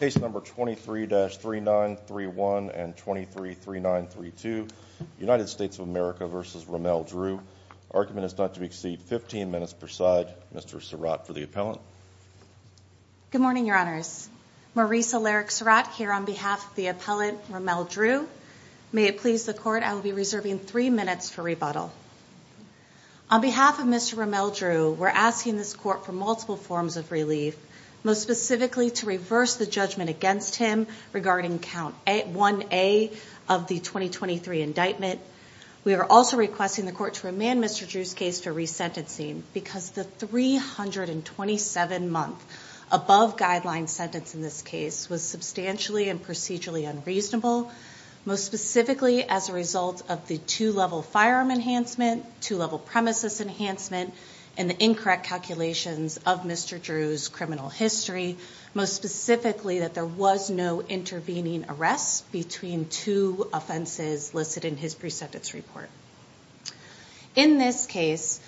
Case number 23-3931 and 23-3932, United States of America v. Ramel Drew. Argument is not to exceed 15 minutes per side. Mr. Surratt for the appellant. Good morning, Your Honors. Marisa Larrick Surratt here on behalf of the appellant Ramel Drew. May it please the Court, I will be reserving three minutes for rebuttal. On behalf of Mr. Ramel Drew, we're asking this Court for multiple forms of relief, most specifically to reverse the judgment against him regarding Count 1A of the 2023 indictment. We are also requesting the Court to remand Mr. Drew's case for resentencing because the 327-month above-guideline sentence in this case was substantially and procedurally unreasonable, most specifically as a result of the two-level firearm enhancement, two-level premises enhancement, and the incorrect calculations of Mr. Drew's criminal history, most specifically that there was no intervening arrest between two offenses listed in his pre-sentence report. In this case,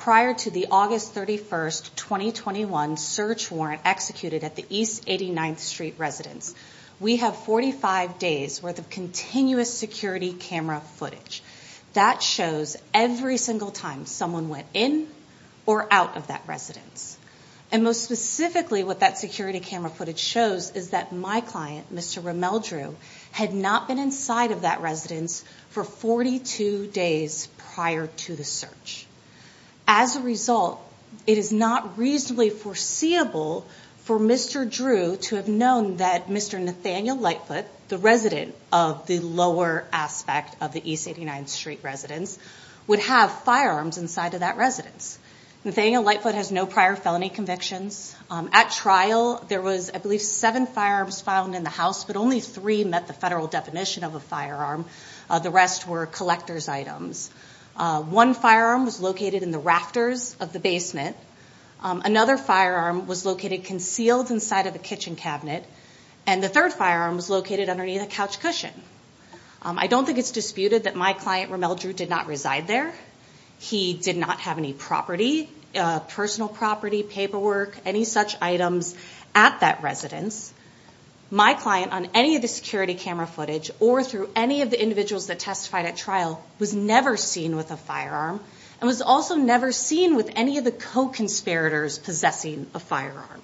prior to the August 31st, 2021 search warrant executed at the East 89th Street residence, we have 45 days worth of continuous security camera footage. That shows every single time someone went in or out of that residence. And most specifically, what that security camera footage shows is that my client, Mr. Ramel Drew, had not been inside of that residence for 42 days prior to the search. As a result, it is not reasonably foreseeable for Mr. Drew to have known that Mr. Nathaniel Lightfoot, the resident of the lower aspect of the East 89th Street residence, would have firearms inside of that residence. Nathaniel Lightfoot has no prior felony convictions. At trial, there was, I believe, seven firearms found in the house, but only three met the federal definition of a firearm. The rest were collector's items. One firearm was located in the rafters of the basement. Another firearm was located concealed inside of a kitchen cabinet. And the third firearm was located underneath a couch cushion. I don't think it's disputed that my client, Ramel Drew, did not reside there. He did not have any property, personal property, paperwork, any such items at that residence. My client, on any of the security camera footage or through any of the individuals that testified at trial, was never seen with a firearm and was also never seen with any of the co-conspirators possessing a firearm.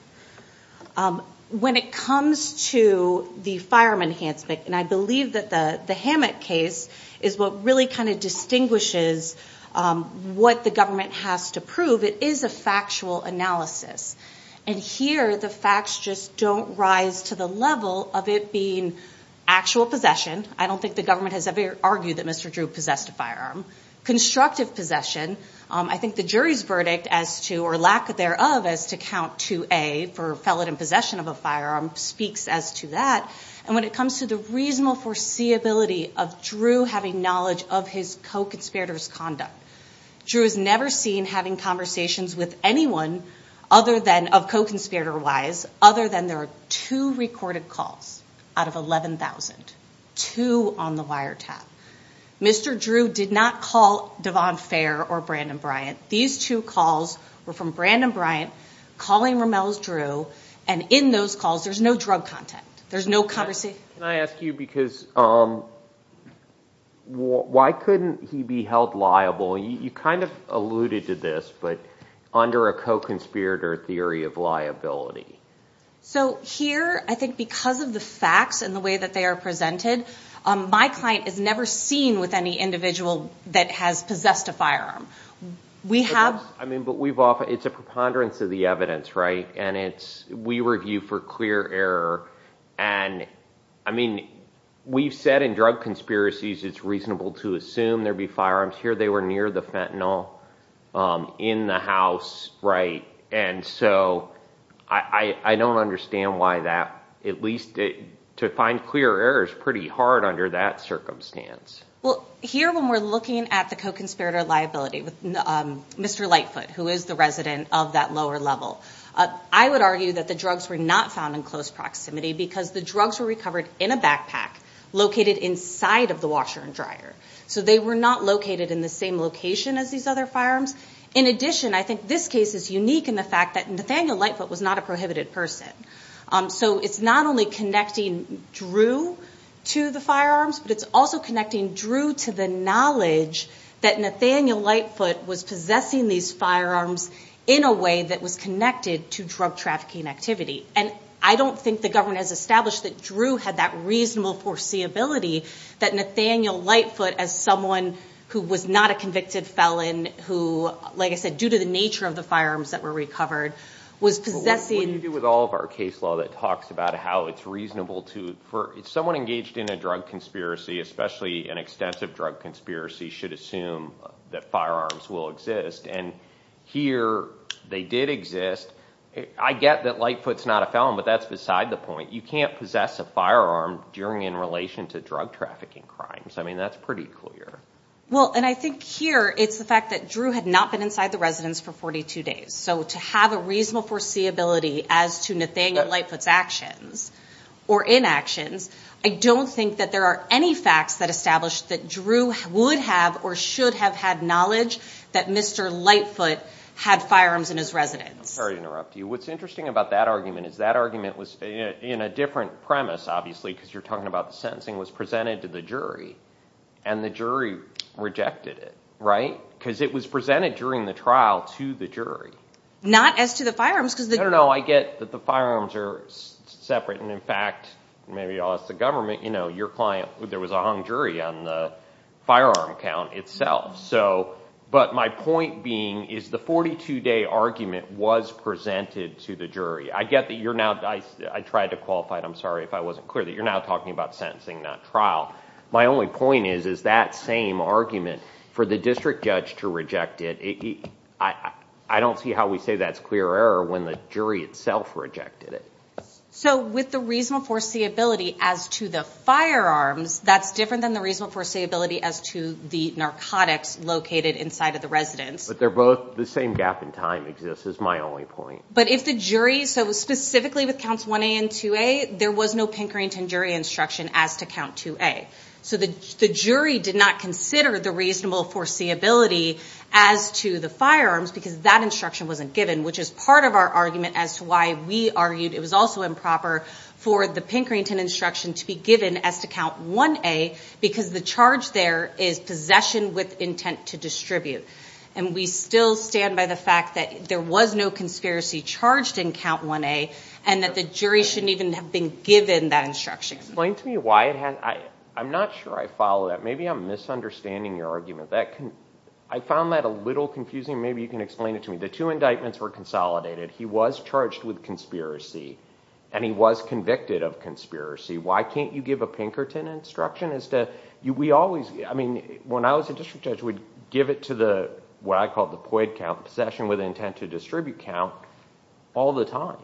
When it comes to the firearm enhancement, and I believe that the Hammett case is what really kind of distinguishes what the government has to prove, it is a factual analysis. And here, the facts just don't rise to the level of it being actual possession. I don't think the government has ever argued that Mr. Drew possessed a firearm. Constructive possession, I think the jury's verdict as to, or lack thereof, as to count 2A for felon in possession of a firearm, speaks as to that. And when it comes to the reasonable foreseeability of Drew having knowledge of his co-conspirator's conduct, Drew is never seen having conversations with anyone of co-conspirator wise, other than there are two recorded calls out of 11,000. Two on the wiretap. Mr. Drew did not call Devon Fair or Brandon Bryant. These two calls were from Brandon Bryant calling Rommel's Drew, and in those calls there's no drug content. There's no conversation. Can I ask you, because why couldn't he be held liable? You kind of alluded to this, but under a co-conspirator theory of liability. So here, I think because of the facts and the way that they are presented, my client is never seen with any individual that has possessed a firearm. It's a preponderance of the evidence, right? And we review for clear error. We've said in drug conspiracies it's reasonable to assume there'd be firearms. Here they were near the fentanyl, in the house. And so I don't understand why that, at least to find clear errors pretty hard under that circumstance. Well, here when we're looking at the co-conspirator liability with Mr. Lightfoot, who is the resident of that lower level, I would argue that the drugs were not found in close proximity because the drugs were recovered in a backpack, located inside of the washer and dryer. So they were not located in the same location as these other firearms. In addition, I think this case is unique in the fact that Nathaniel Lightfoot was not a prohibited person. So it's not only connecting Drew to the firearms, but it's also connecting Drew to the knowledge that Nathaniel Lightfoot was possessing these firearms in a way that was connected to drug trafficking activity. And I don't think the government has established that Drew had that reasonable foreseeability that Nathaniel Lightfoot, as someone who was not a convicted felon, who, like I said, due to the nature of the firearms that were recovered, was possessing... What do you do with all of our case law that talks about how it's reasonable to... Someone engaged in a drug conspiracy, especially an extensive drug conspiracy, should assume that firearms will exist. And here they did exist. I get that Lightfoot's not a felon, but that's beside the point. You can't possess a firearm in relation to drug trafficking crimes. I mean, that's pretty clear. Well, and I think here it's the fact that Drew had not been inside the residence for 42 days. So to have a reasonable foreseeability as to Nathaniel Lightfoot's actions or inactions, I don't think that there are any facts that establish that Drew would have or should have had knowledge that Mr. Lightfoot had firearms in his residence. I'm sorry to interrupt you. What's interesting about that argument is that argument was in a different premise, obviously, because you're talking about the sentencing was presented to the jury, and the jury rejected it, right? Because it was presented during the trial to the jury. Not as to the firearms because the jury... No, no, no. I get that the firearms are separate. And, in fact, maybe I'll ask the government. You know, your client, there was a hung jury on the firearm count itself. But my point being is the 42-day argument was presented to the jury. I get that you're now... I tried to qualify it. I'm sorry if I wasn't clear that you're now talking about sentencing, not trial. My only point is, is that same argument for the district judge to reject it, I don't see how we say that's clear error when the jury itself rejected it. So with the reasonable foreseeability as to the firearms, that's different than the reasonable foreseeability as to the narcotics located inside of the residence. But they're both... The same gap in time exists is my only point. But if the jury... So specifically with counts 1A and 2A, there was no Pinkerton jury instruction as to count 2A. So the jury did not consider the reasonable foreseeability as to the firearms because that instruction wasn't given, which is part of our argument as to why we argued it was also improper for the Pinkerton instruction to be given as to count 1A because the charge there is possession with intent to distribute. And we still stand by the fact that there was no conspiracy charged in count 1A and that the jury shouldn't even have been given that instruction. Explain to me why it had... I'm not sure I follow that. Maybe I'm misunderstanding your argument. I found that a little confusing. Maybe you can explain it to me. The two indictments were consolidated. He was charged with conspiracy, and he was convicted of conspiracy. Why can't you give a Pinkerton instruction as to... We always... I mean, when I was a district judge, we'd give it to the, what I called the POID count, possession with intent to distribute count, all the time.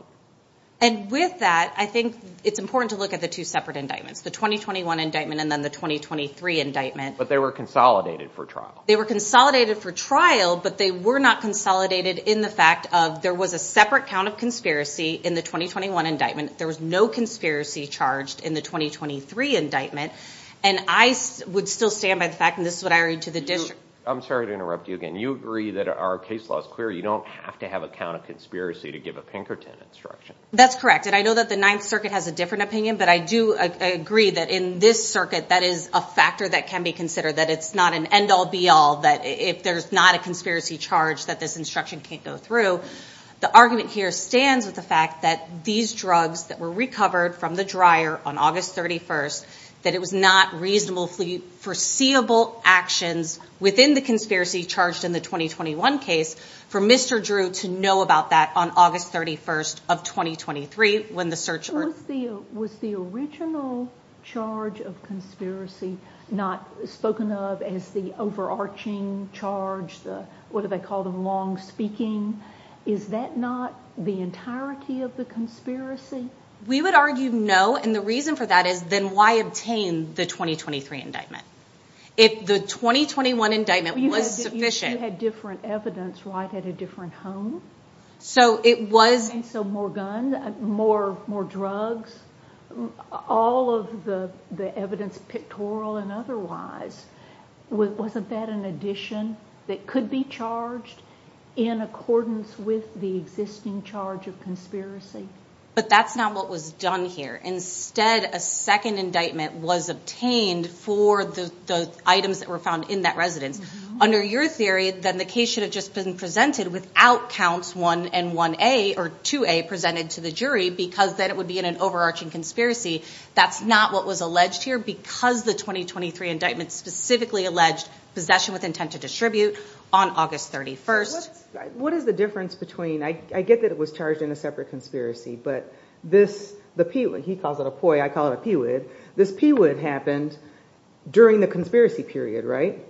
And with that, I think it's important to look at the two separate indictments, the 2021 indictment and then the 2023 indictment. But they were consolidated for trial. They were consolidated for trial, but they were not consolidated in the fact of there was a separate count of conspiracy in the 2021 indictment. There was no conspiracy charged in the 2023 indictment. And I would still stand by the fact, and this is what I read to the district... I'm sorry to interrupt you again. You agree that our case law is clear. You don't have to have a count of conspiracy to give a Pinkerton instruction. That's correct. And I know that the Ninth Circuit has a different opinion, but I do agree that in this circuit, that is a factor that can be considered, that it's not an end-all be-all, that if there's not a conspiracy charge, that this instruction can't go through. The argument here stands with the fact that these drugs that were recovered from the dryer on August 31st, that it was not reasonably foreseeable actions within the conspiracy charged in the 2021 case for Mr. Drew to know about that on August 31st of 2023 when the search... Was the original charge of conspiracy not spoken of as the overarching charge, what do they call them, long-speaking? Is that not the entirety of the conspiracy? We would argue no, and the reason for that is then why obtain the 2023 indictment? If the 2021 indictment was sufficient... You had different evidence right at a different home? So it was... So more guns, more drugs, all of the evidence pictorial and otherwise, wasn't that an addition that could be charged in accordance with the existing charge of conspiracy? But that's not what was done here. Instead, a second indictment was obtained for the items that were found in that residence. Under your theory, then the case should have just been presented without counts 1 and 1A or 2A presented to the jury because then it would be in an overarching conspiracy. That's not what was alleged here because the 2023 indictment specifically alleged possession with intent to distribute on August 31st. What is the difference between... I get that it was charged in a separate conspiracy, but this... He calls it a POI, I call it a PWID. This PWID happened during the conspiracy period, right?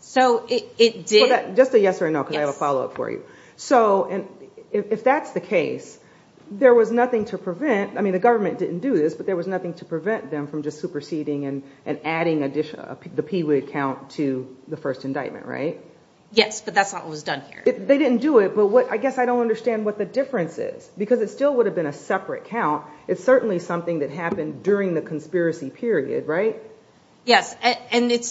So it did... Just a yes or a no because I have a follow-up for you. So if that's the case, there was nothing to prevent... I mean, the government didn't do this, but there was nothing to prevent them from just superseding and adding the PWID count to the first indictment, right? Yes, but that's not what was done here. They didn't do it, but I guess I don't understand what the difference is because it still would have been a separate count. It's certainly something that happened during the conspiracy period, right? Yes, and to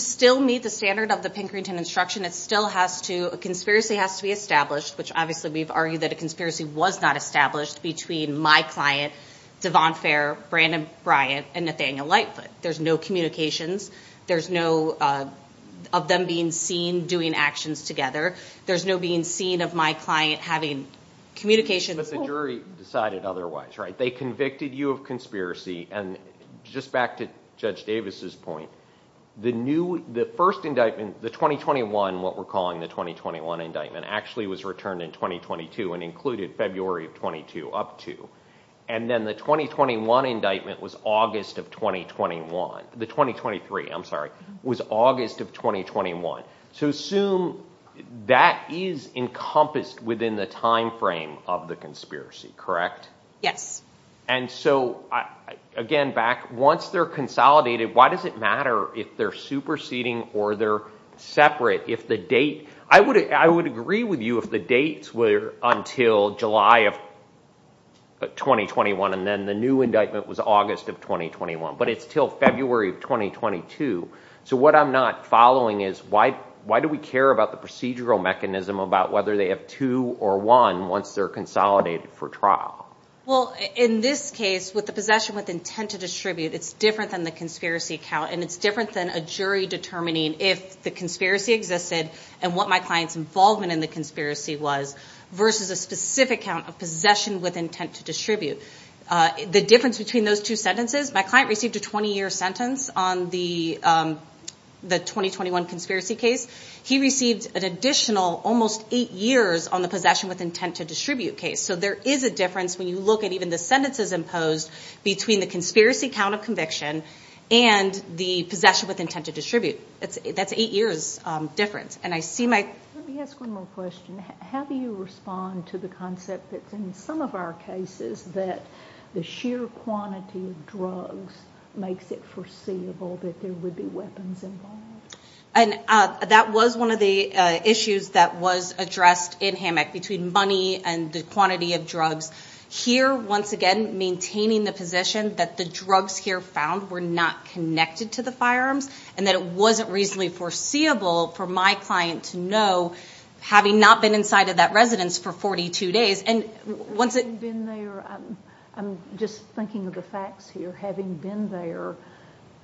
still meet the standard of the Pinkerton instruction, it still has to... A conspiracy has to be established, which obviously we've argued that a conspiracy was not established between my client, Devon Fair, Brandon Bryant, and Nathaniel Lightfoot. There's no communications. There's no of them being seen doing actions together. There's no being seen of my client having communications... But the jury decided otherwise, right? They convicted you of conspiracy, and just back to Judge Davis's point, the first indictment, the 2021, what we're calling the 2021 indictment, actually was returned in 2022 and included February of 22 up to, and then the 2021 indictment was August of 2021. The 2023, I'm sorry, was August of 2021. So assume that is encompassed within the timeframe of the conspiracy, correct? Yes. And so, again, back, once they're consolidated, why does it matter if they're superseding or they're separate if the date... I would agree with you if the dates were until July of 2021 and then the new indictment was August of 2021, but it's till February of 2022. So what I'm not following is why do we care about the procedural mechanism about whether they have two or one once they're consolidated for trial? Well, in this case, with the possession with intent to distribute, it's different than the conspiracy count, and it's different than a jury determining if the conspiracy existed and what my client's involvement in the conspiracy was versus a specific count of possession with intent to distribute. The difference between those two sentences, my client received a 20-year sentence on the 2021 conspiracy case. He received an additional almost eight years on the possession with intent to distribute case. So there is a difference when you look at even the sentences imposed between the conspiracy count of conviction and the possession with intent to distribute. That's eight years difference. And I see my... Let me ask one more question. How do you respond to the concept that's in some of our cases that the sheer quantity of drugs makes it foreseeable that there would be weapons involved? And that was one of the issues that was addressed in Hammock between money and the quantity of drugs. Here, once again, maintaining the position that the drugs here found were not connected to the firearms and that it wasn't reasonably foreseeable for my client to know, having not been inside of that residence for 42 days. And once it... Having been there, I'm just thinking of the facts here. Having been there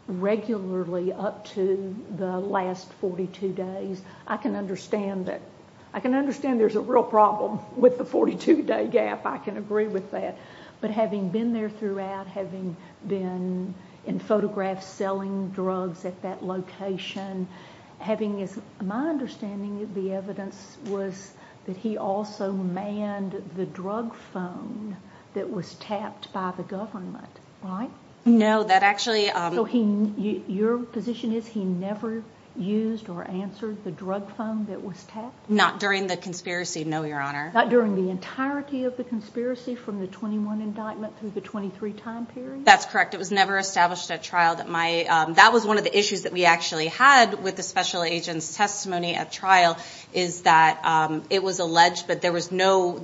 regularly up to the last 42 days, I can understand that... I can understand there's a real problem with the 42-day gap. I can agree with that. But having been there throughout, having been in photographs selling drugs at that location, having... My understanding of the evidence was that he also manned the drug phone that was tapped by the government, right? No, that actually... So your position is he never used or answered the drug phone that was tapped? Not during the conspiracy, no, Your Honor. Not during the entirety of the conspiracy from the 21 indictment through the 23 time period? That's correct. It was never established at trial that my... That was one of the issues that we actually had with the special agent's testimony at trial is that it was alleged, but there was no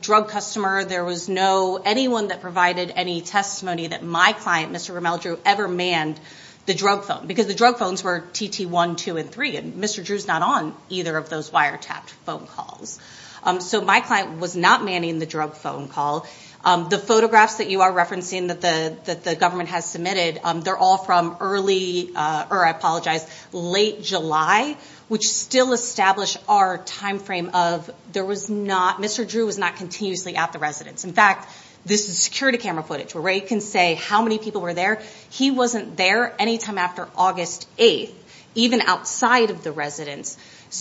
drug customer, there was no anyone that provided any testimony that my client, Mr. Rommel Drew, ever manned the drug phone because the drug phones were TT1, 2, and 3, and Mr. Drew's not on either of those wiretapped phone calls. So my client was not manning the drug phone call. The photographs that you are referencing that the government has submitted, they're all from early... Or I apologize, late July, which still establish our time frame of there was not... Mr. Drew was not continuously at the residence. In fact, this is security camera footage where we can say how many people were there. He wasn't there any time after August 8th, even outside of the residence.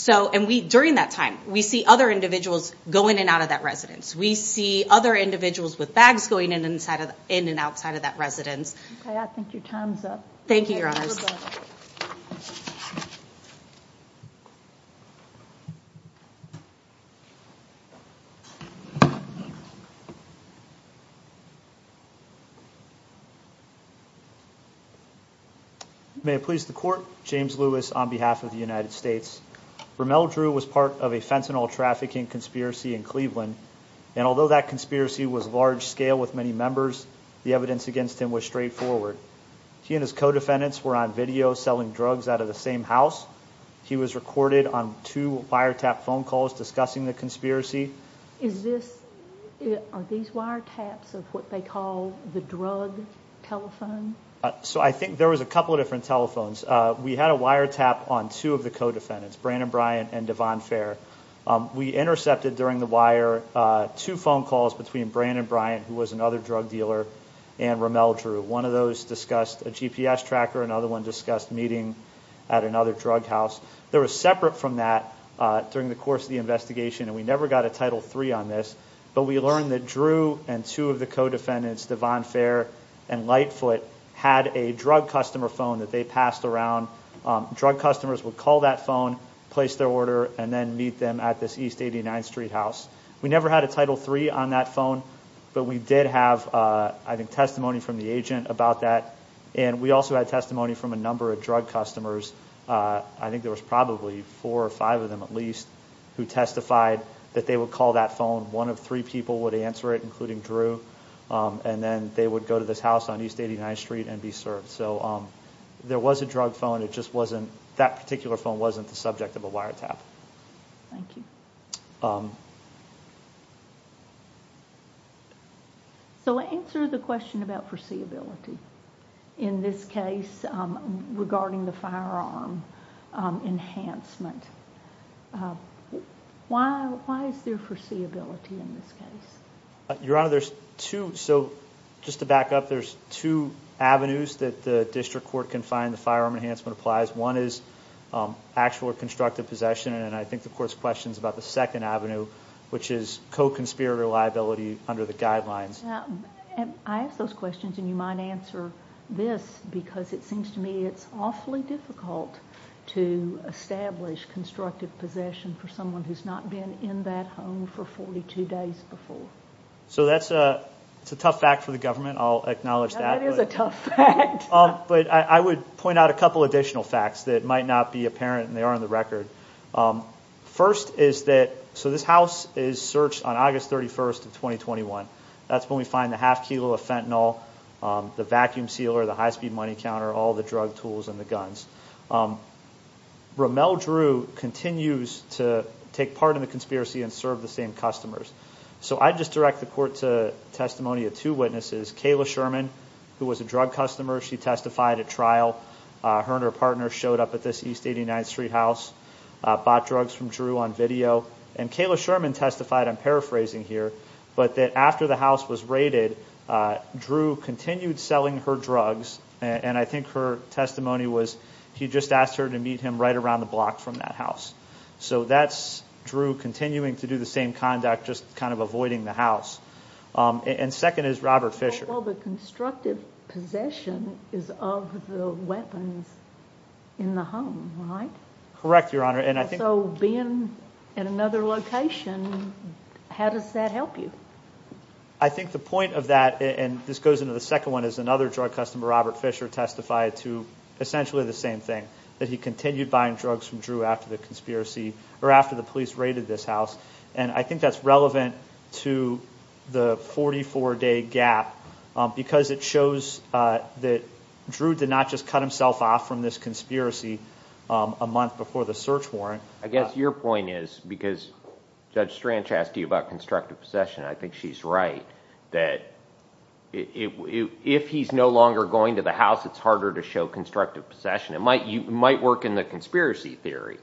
And during that time, we see other individuals going in and out of that residence. We see other individuals with bags going in and outside of that residence. Okay, I think your time's up. Thank you, Your Honor. May it please the Court, James Lewis, on behalf of the United States. Rommel Drew was part of a fentanyl trafficking conspiracy in Cleveland, and although that conspiracy was large-scale with many members, the evidence against him was straightforward. He and his co-defendants were on video selling drugs out of the same house. He was recorded on two wiretapped phone calls discussing the conspiracy. Is this... Are these wiretaps of what they call the fentanyl? The drug telephone? So I think there was a couple of different telephones. We had a wiretap on two of the co-defendants, Brandon Bryant and Devon Fair. We intercepted during the wire two phone calls between Brandon Bryant, who was another drug dealer, and Rommel Drew. One of those discussed a GPS tracker, another one discussed meeting at another drug house. They were separate from that during the course of the investigation, and we never got a Title III on this, but we learned that Drew and two of the co-defendants, Devon Fair and Lightfoot, had a drug customer phone that they passed around. Drug customers would call that phone, place their order, and then meet them at this East 89th Street house. We never had a Title III on that phone, but we did have, I think, testimony from the agent about that, and we also had testimony from a number of drug customers. I think there was probably four or five of them at least who testified that they would call that phone. One of three people would answer it, including Drew, and then they would go to this house on East 89th Street and be served. So there was a drug phone. It just wasn't that particular phone wasn't the subject of a wiretap. Thank you. So answer the question about foreseeability in this case regarding the firearm enhancement. Why is there foreseeability in this case? Your Honor, there's two. So just to back up, there's two avenues that the district court can find the firearm enhancement applies. One is actual or constructive possession, and I think the court's question is about the second avenue, which is co-conspirator liability under the guidelines. I ask those questions, and you might answer this because it seems to me it's awfully difficult to establish constructive possession for someone who's not been in that home for 42 days before. So that's a tough fact for the government. I'll acknowledge that. That is a tough fact. But I would point out a couple additional facts that might not be apparent, and they are on the record. First is that this house is searched on August 31st of 2021. That's when we find the half kilo of fentanyl, the vacuum sealer, the high-speed money counter, all the drug tools and the guns. Rommel Drew continues to take part in the conspiracy and serve the same customers. So I'd just direct the court to testimony of two witnesses, Kayla Sherman, who was a drug customer. She testified at trial. Her and her partner showed up at this East 89th Street house, bought drugs from Drew on video. And Kayla Sherman testified, I'm paraphrasing here, but that after the house was raided, Drew continued selling her drugs, and I think her testimony was he just asked her to meet him right around the block from that house. So that's Drew continuing to do the same conduct, just kind of avoiding the house. And second is Robert Fisher. Well, the constructive possession is of the weapons in the home, right? Correct, Your Honor. So being in another location, how does that help you? I think the point of that, and this goes into the second one, is another drug customer, Robert Fisher, testified to essentially the same thing, that he continued buying drugs from Drew after the conspiracy or after the police raided this house. And I think that's relevant to the 44-day gap because it shows that Drew did not just cut himself off from this conspiracy a month before the search warrant. I guess your point is, because Judge Stranch asked you about constructive possession, I think she's right, that if he's no longer going to the house, it's harder to show constructive possession. It might work in the conspiracy theory,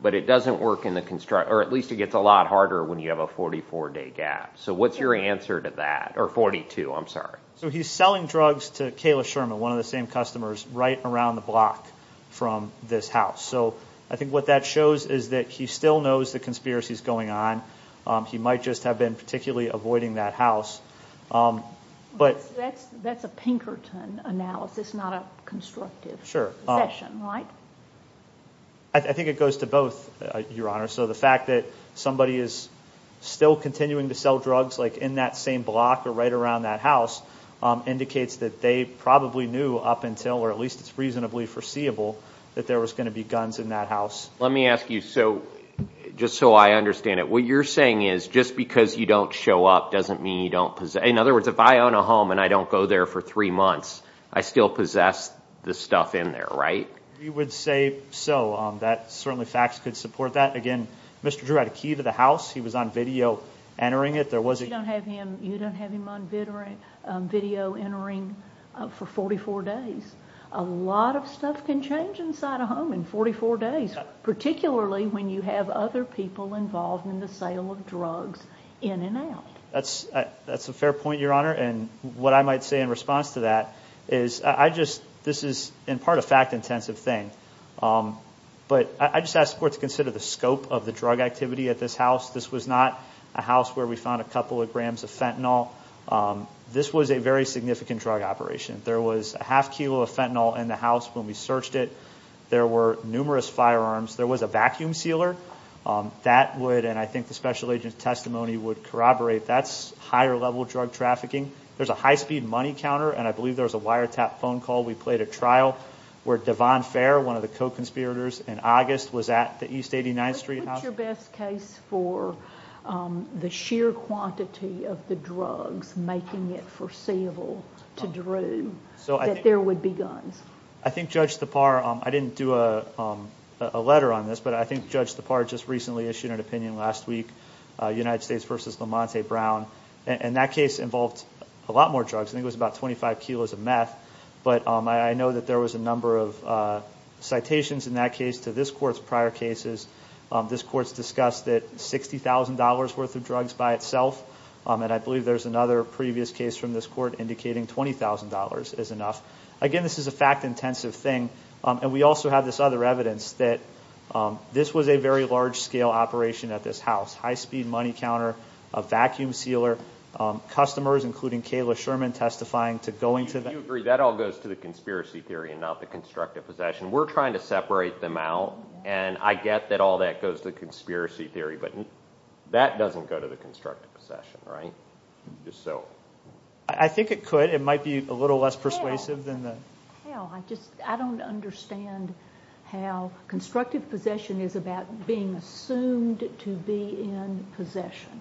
but it doesn't work in the construct, or at least it gets a lot harder when you have a 44-day gap. So what's your answer to that? Or 42, I'm sorry. So he's selling drugs to Kayla Sherman, one of the same customers, right around the block from this house. So I think what that shows is that he still knows the conspiracy is going on. He might just have been particularly avoiding that house. That's a Pinkerton analysis, not a constructive possession, right? Sure. I think it goes to both, Your Honor. So the fact that somebody is still continuing to sell drugs, like in that same block or right around that house, indicates that they probably knew up until, or at least it's reasonably foreseeable, that there was going to be guns in that house. Let me ask you, just so I understand it, what you're saying is just because you don't show up doesn't mean you don't possess. In other words, if I own a home and I don't go there for three months, I still possess the stuff in there, right? We would say so. Certainly facts could support that. Again, Mr. Drew had a key to the house. He was on video entering it. You don't have him on video entering for 44 days. A lot of stuff can change inside a home in 44 days, particularly when you have other people involved in the sale of drugs in and out. That's a fair point, Your Honor, and what I might say in response to that is I just, this is in part a fact-intensive thing, but I just ask the Court to consider the scope of the drug activity at this house. This was not a house where we found a couple of grams of fentanyl. This was a very significant drug operation. There was a half kilo of fentanyl in the house when we searched it. There were numerous firearms. There was a vacuum sealer. That would, and I think the special agent's testimony would corroborate, that's higher-level drug trafficking. There's a high-speed money counter, and I believe there was a wiretap phone call we played at trial where Devon Fair, one of the co-conspirators in August, was at the East 89th Street house. What's your best case for the sheer quantity of the drugs making it foreseeable to Drew that there would be guns? I think Judge Thapar, I didn't do a letter on this, but I think Judge Thapar just recently issued an opinion last week, United States v. Lamont Brown, and that case involved a lot more drugs. I think it was about 25 kilos of meth, but I know that there was a number of citations in that case to this Court's prior cases. This Court's discussed it, $60,000 worth of drugs by itself, and I believe there's another previous case from this Court indicating $20,000 is enough. Again, this is a fact-intensive thing, and we also have this other evidence that this was a very large-scale operation at this house, high-speed money counter, a vacuum sealer, customers, including Kayla Sherman, testifying to going to that. Do you agree that all goes to the conspiracy theory and not the constructive possession? We're trying to separate them out, and I get that all that goes to conspiracy theory, but that doesn't go to the constructive possession, right? Just so. I think it could. It might be a little less persuasive than the. I don't understand how constructive possession is about being assumed to be in possession.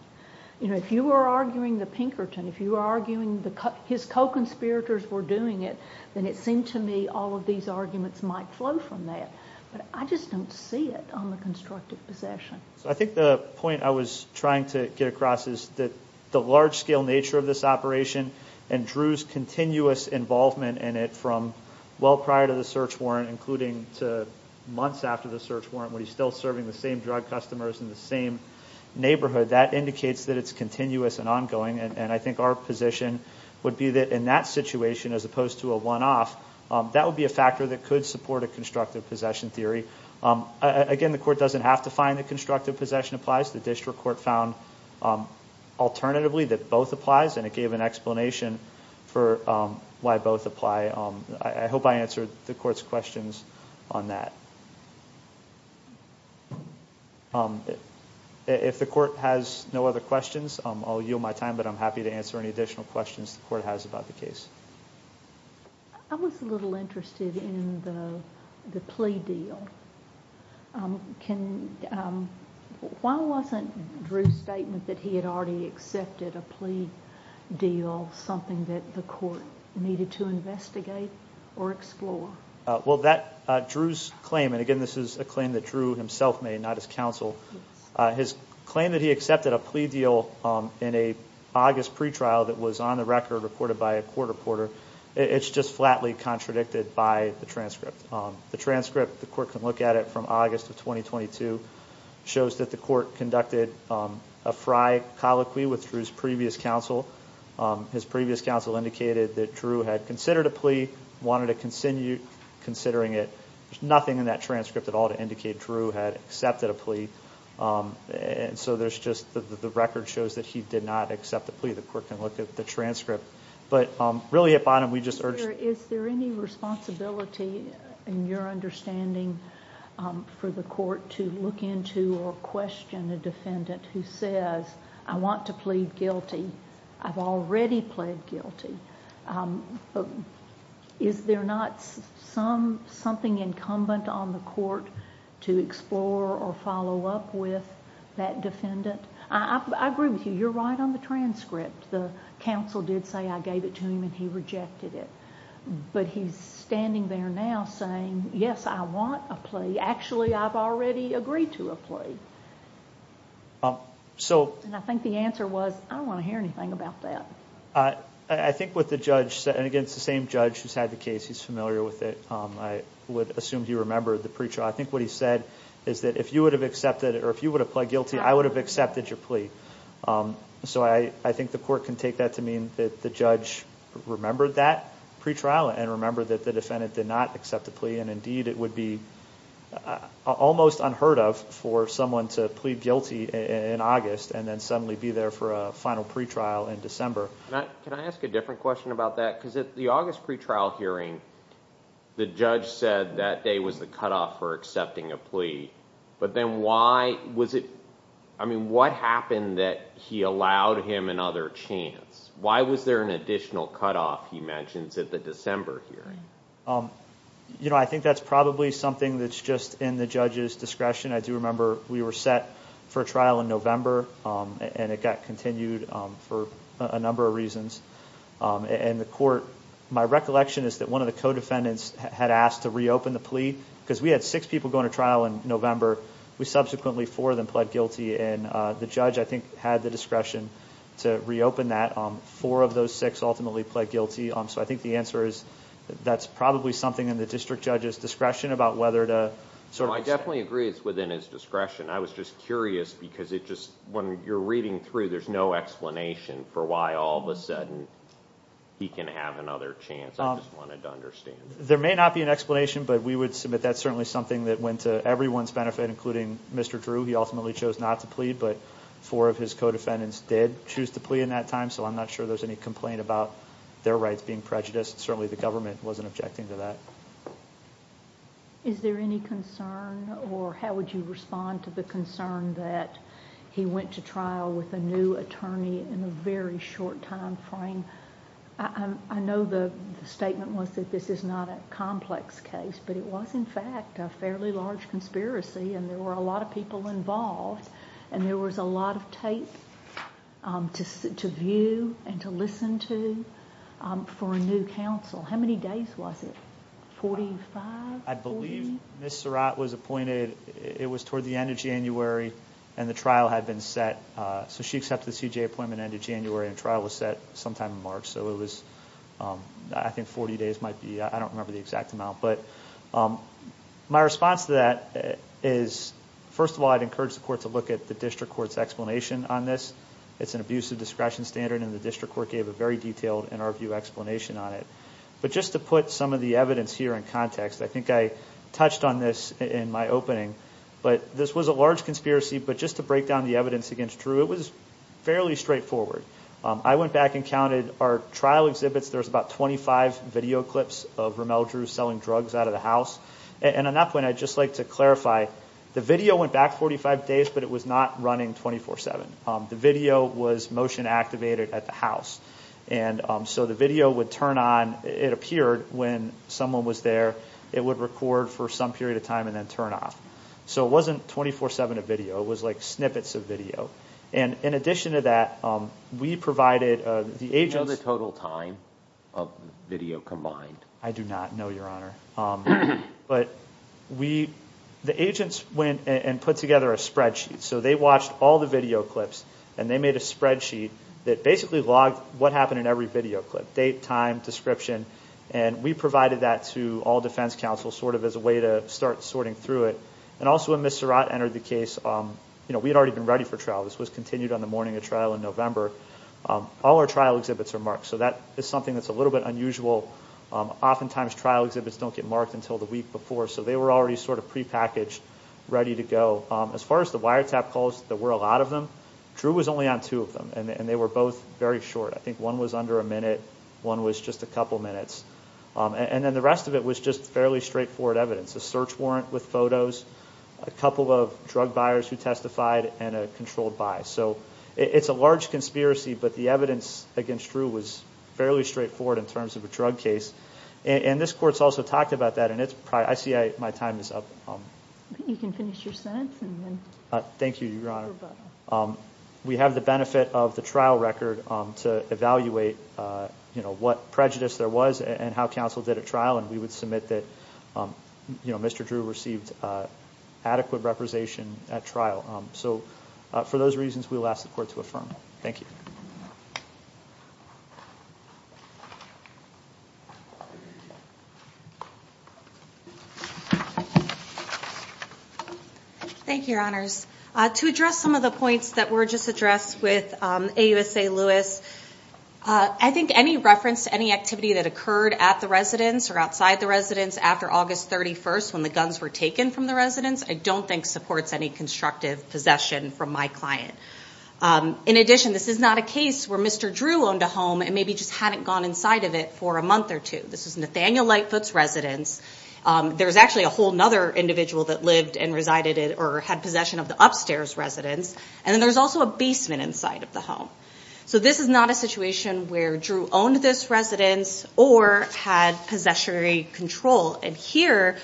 If you were arguing the Pinkerton, if you were arguing his co-conspirators were doing it, then it seemed to me all of these arguments might flow from that, but I just don't see it on the constructive possession. I think the point I was trying to get across is that the large-scale nature of this operation and Drew's continuous involvement in it from well prior to the search warrant, including to months after the search warrant, when he's still serving the same drug customers in the same neighborhood, that indicates that it's continuous and ongoing, and I think our position would be that in that situation, as opposed to a one-off, that would be a factor that could support a constructive possession theory. Again, the court doesn't have to find that constructive possession applies. The district court found alternatively that both applies, and it gave an explanation for why both apply. I hope I answered the court's questions on that. If the court has no other questions, I'll yield my time, but I'm happy to answer any additional questions the court has about the case. I was a little interested in the plea deal. Why wasn't Drew's statement that he had already accepted a plea deal something that the court needed to investigate or explore? Well, Drew's claim, and again, this is a claim that Drew himself made, not his counsel, his claim that he accepted a plea deal in an August pretrial that was on the record reported by a court reporter, it's just flatly contradicted by the transcript. The transcript, the court can look at it from August of 2022, shows that the court conducted a fried colloquy with Drew's previous counsel. His previous counsel indicated that Drew had considered a plea, wanted to continue considering it. There's nothing in that transcript at all to indicate Drew had accepted a plea, and so there's just the record shows that he did not accept the plea. The court can look at the transcript. Is there any responsibility, in your understanding, for the court to look into or question a defendant who says, I want to plead guilty, I've already pled guilty? Is there not something incumbent on the court to explore or follow up with that defendant? I agree with you, you're right on the transcript. The counsel did say, I gave it to him, and he rejected it. But he's standing there now saying, yes, I want a plea. Actually, I've already agreed to a plea. And I think the answer was, I don't want to hear anything about that. I think what the judge said, and again, it's the same judge who's had the case, he's familiar with it. I would assume he remembered the pretrial. I think what he said is that if you would have accepted it, or if you would have pled guilty, I would have accepted your plea. So I think the court can take that to mean that the judge remembered that pretrial and remembered that the defendant did not accept the plea. And indeed, it would be almost unheard of for someone to plead guilty in August and then suddenly be there for a final pretrial in December. Can I ask a different question about that? Because at the August pretrial hearing, the judge said that day was the cutoff for accepting a plea. But then why was it... I mean, what happened that he allowed him another chance? Why was there an additional cutoff, he mentions, at the December hearing? You know, I think that's probably something that's just in the judge's discretion. I do remember we were set for trial in November, and it got continued for a number of reasons. And the court... My recollection is that one of the co-defendants had asked to reopen the plea because we had six people going to trial in November. Subsequently, four of them pled guilty. And the judge, I think, had the discretion to reopen that. Four of those six ultimately pled guilty. So I think the answer is that's probably something in the district judge's discretion about whether to... I definitely agree it's within his discretion. I was just curious because it just... When you're reading through, there's no explanation for why all of a sudden he can have another chance. I just wanted to understand. There may not be an explanation, but we would submit that's certainly something that went to everyone's benefit, including Mr. Drew. He ultimately chose not to plead, but four of his co-defendants did choose to plea in that time. So I'm not sure there's any complaint about their rights being prejudiced. Certainly the government wasn't objecting to that. Is there any concern, or how would you respond to the concern that he went to trial with a new attorney in a very short time frame? I know the statement was that this is not a complex case, but it was, in fact, a fairly large conspiracy, and there were a lot of people involved, and there was a lot of tape to view and to listen to for a new counsel. How many days was it? Forty-five? I believe Ms. Surratt was appointed... It was toward the end of January, and the trial had been set. So she accepted the CJA appointment at the end of January, and trial was set sometime in March. So it was, I think, 40 days might be... I don't remember the exact amount. But my response to that is, first of all, I'd encourage the court to look at the district court's explanation on this. It's an abuse of discretion standard, and the district court gave a very detailed, in our view, explanation on it. But just to put some of the evidence here in context, I think I touched on this in my opening, but this was a large conspiracy, but just to break down the evidence against Drew, it was fairly straightforward. I went back and counted our trial exhibits. There was about 25 video clips of Ramel Drew selling drugs out of the house. And on that point, I'd just like to clarify, the video went back 45 days, but it was not running 24-7. The video was motion-activated at the house. And so the video would turn on. It appeared when someone was there. It would record for some period of time and then turn off. So it wasn't 24-7 of video. It was like snippets of video. And in addition to that, we provided the agents. Do you know the total time of video combined? I do not know, Your Honor. But the agents went and put together a spreadsheet. So they watched all the video clips, and they made a spreadsheet that basically logged what happened in every video clip, date, time, description. And we provided that to all defense counsel sort of as a way to start sorting through it. And also when Ms. Surratt entered the case, we had already been ready for trial. This was continued on the morning of trial in November. All our trial exhibits are marked, so that is something that's a little bit unusual. Oftentimes, trial exhibits don't get marked until the week before, so they were already sort of prepackaged, ready to go. As far as the wiretap calls, there were a lot of them. Drew was only on two of them, and they were both very short. I think one was under a minute, one was just a couple minutes. And then the rest of it was just fairly straightforward evidence, a search warrant with photos, a couple of drug buyers who testified, and a controlled buy. So it's a large conspiracy, but the evidence against Drew was fairly straightforward in terms of a drug case. And this Court has also talked about that, and I see my time is up. You can finish your sentence. Thank you, Your Honor. We have the benefit of the trial record to evaluate what prejudice there was and how counsel did at trial, and we would submit that Mr. Drew received adequate representation at trial. So for those reasons, we will ask the Court to affirm. Thank you. Thank you, Your Honors. To address some of the points that were just addressed with AUSA Lewis, I think any reference to any activity that occurred at the residence or outside the residence after August 31st when the guns were taken from the residence I don't think supports any constructive possession from my client. In addition, this is not a case where Mr. Drew owned a home and maybe just hadn't gone inside of it for a month or two. This was Nathaniel Lightfoot's residence. There was actually a whole other individual that lived and resided or had possession of the upstairs residence, and then there was also a basement inside of the home. So this is not a situation where Drew owned this residence or had possessory control. And here,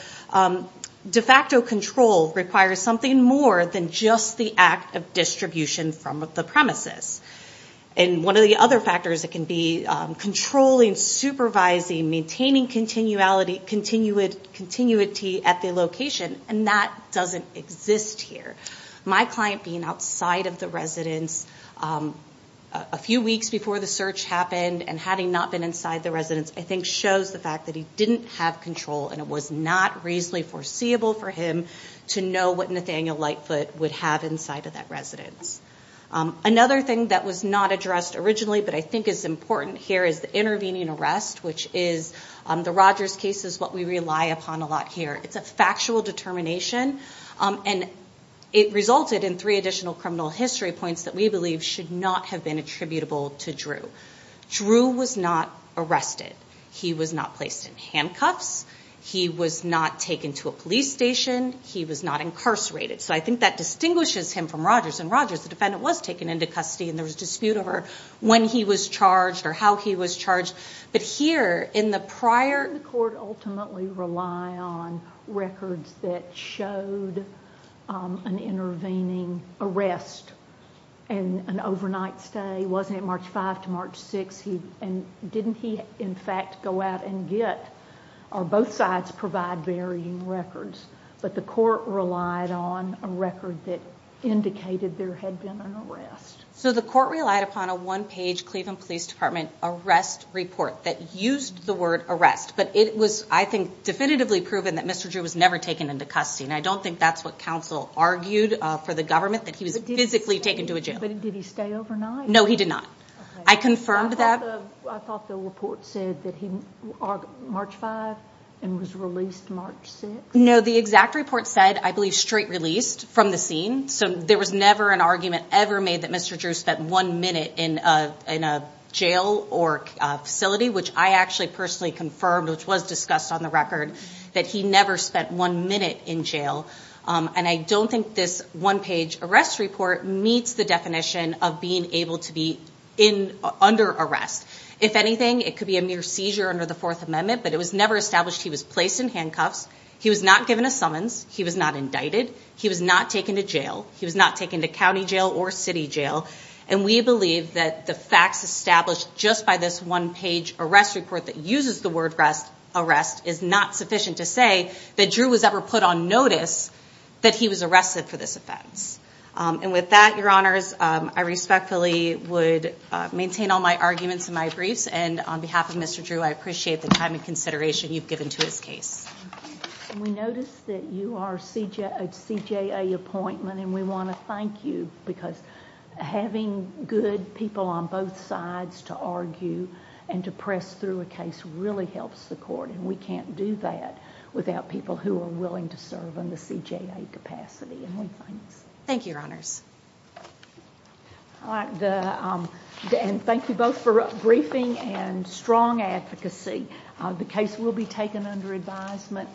de facto control requires something more than just the act of distribution from the premises. And one of the other factors that can be controlling, supervising, maintaining continuity at the location, and that doesn't exist here. My client being outside of the residence a few weeks before the search happened and having not been inside the residence I think shows the fact that he didn't have control and it was not reasonably foreseeable for him to know what Nathaniel Lightfoot would have inside of that residence. Another thing that was not addressed originally but I think is important here is the intervening arrest, which is the Rogers case is what we rely upon a lot here. It's a factual determination, and it resulted in three additional criminal history points that we believe should not have been attributable to Drew. Drew was not arrested. He was not placed in handcuffs. He was not taken to a police station. He was not incarcerated. So I think that distinguishes him from Rogers, and Rogers, the defendant, was taken into custody and there was dispute over when he was charged or how he was charged. The court ultimately relied on records that showed an intervening arrest and an overnight stay. Wasn't it March 5 to March 6? Didn't he, in fact, go out and get or both sides provide varying records? But the court relied on a record that indicated there had been an arrest. So the court relied upon a one-page Cleveland Police Department arrest report that used the word arrest, but it was, I think, definitively proven that Mr. Drew was never taken into custody, and I don't think that's what counsel argued for the government, that he was physically taken to a jail. But did he stay overnight? No, he did not. I confirmed that. I thought the report said that he, March 5, and was released March 6. No, the exact report said, I believe, straight released from the scene, so there was never an argument ever made that Mr. Drew spent one minute in a jail or facility, which I actually personally confirmed, which was discussed on the record, that he never spent one minute in jail. And I don't think this one-page arrest report meets the definition of being able to be under arrest. If anything, it could be a mere seizure under the Fourth Amendment, but it was never established he was placed in handcuffs. He was not given a summons. He was not indicted. He was not taken to jail. He was not taken to county jail or city jail. And we believe that the facts established just by this one-page arrest report that uses the word arrest is not sufficient to say that Drew was ever put on notice that he was arrested for this offense. And with that, Your Honors, I respectfully would maintain all my arguments and my briefs, and on behalf of Mr. Drew, I appreciate the time and consideration you've given to his case. We notice that you are a CJA appointment, and we want to thank you, because having good people on both sides to argue and to press through a case really helps the court, and we can't do that without people who are willing to serve in the CJA capacity, and we thank you. Thank you, Your Honors. And thank you both for briefing and strong advocacy. The case will be taken under advisement.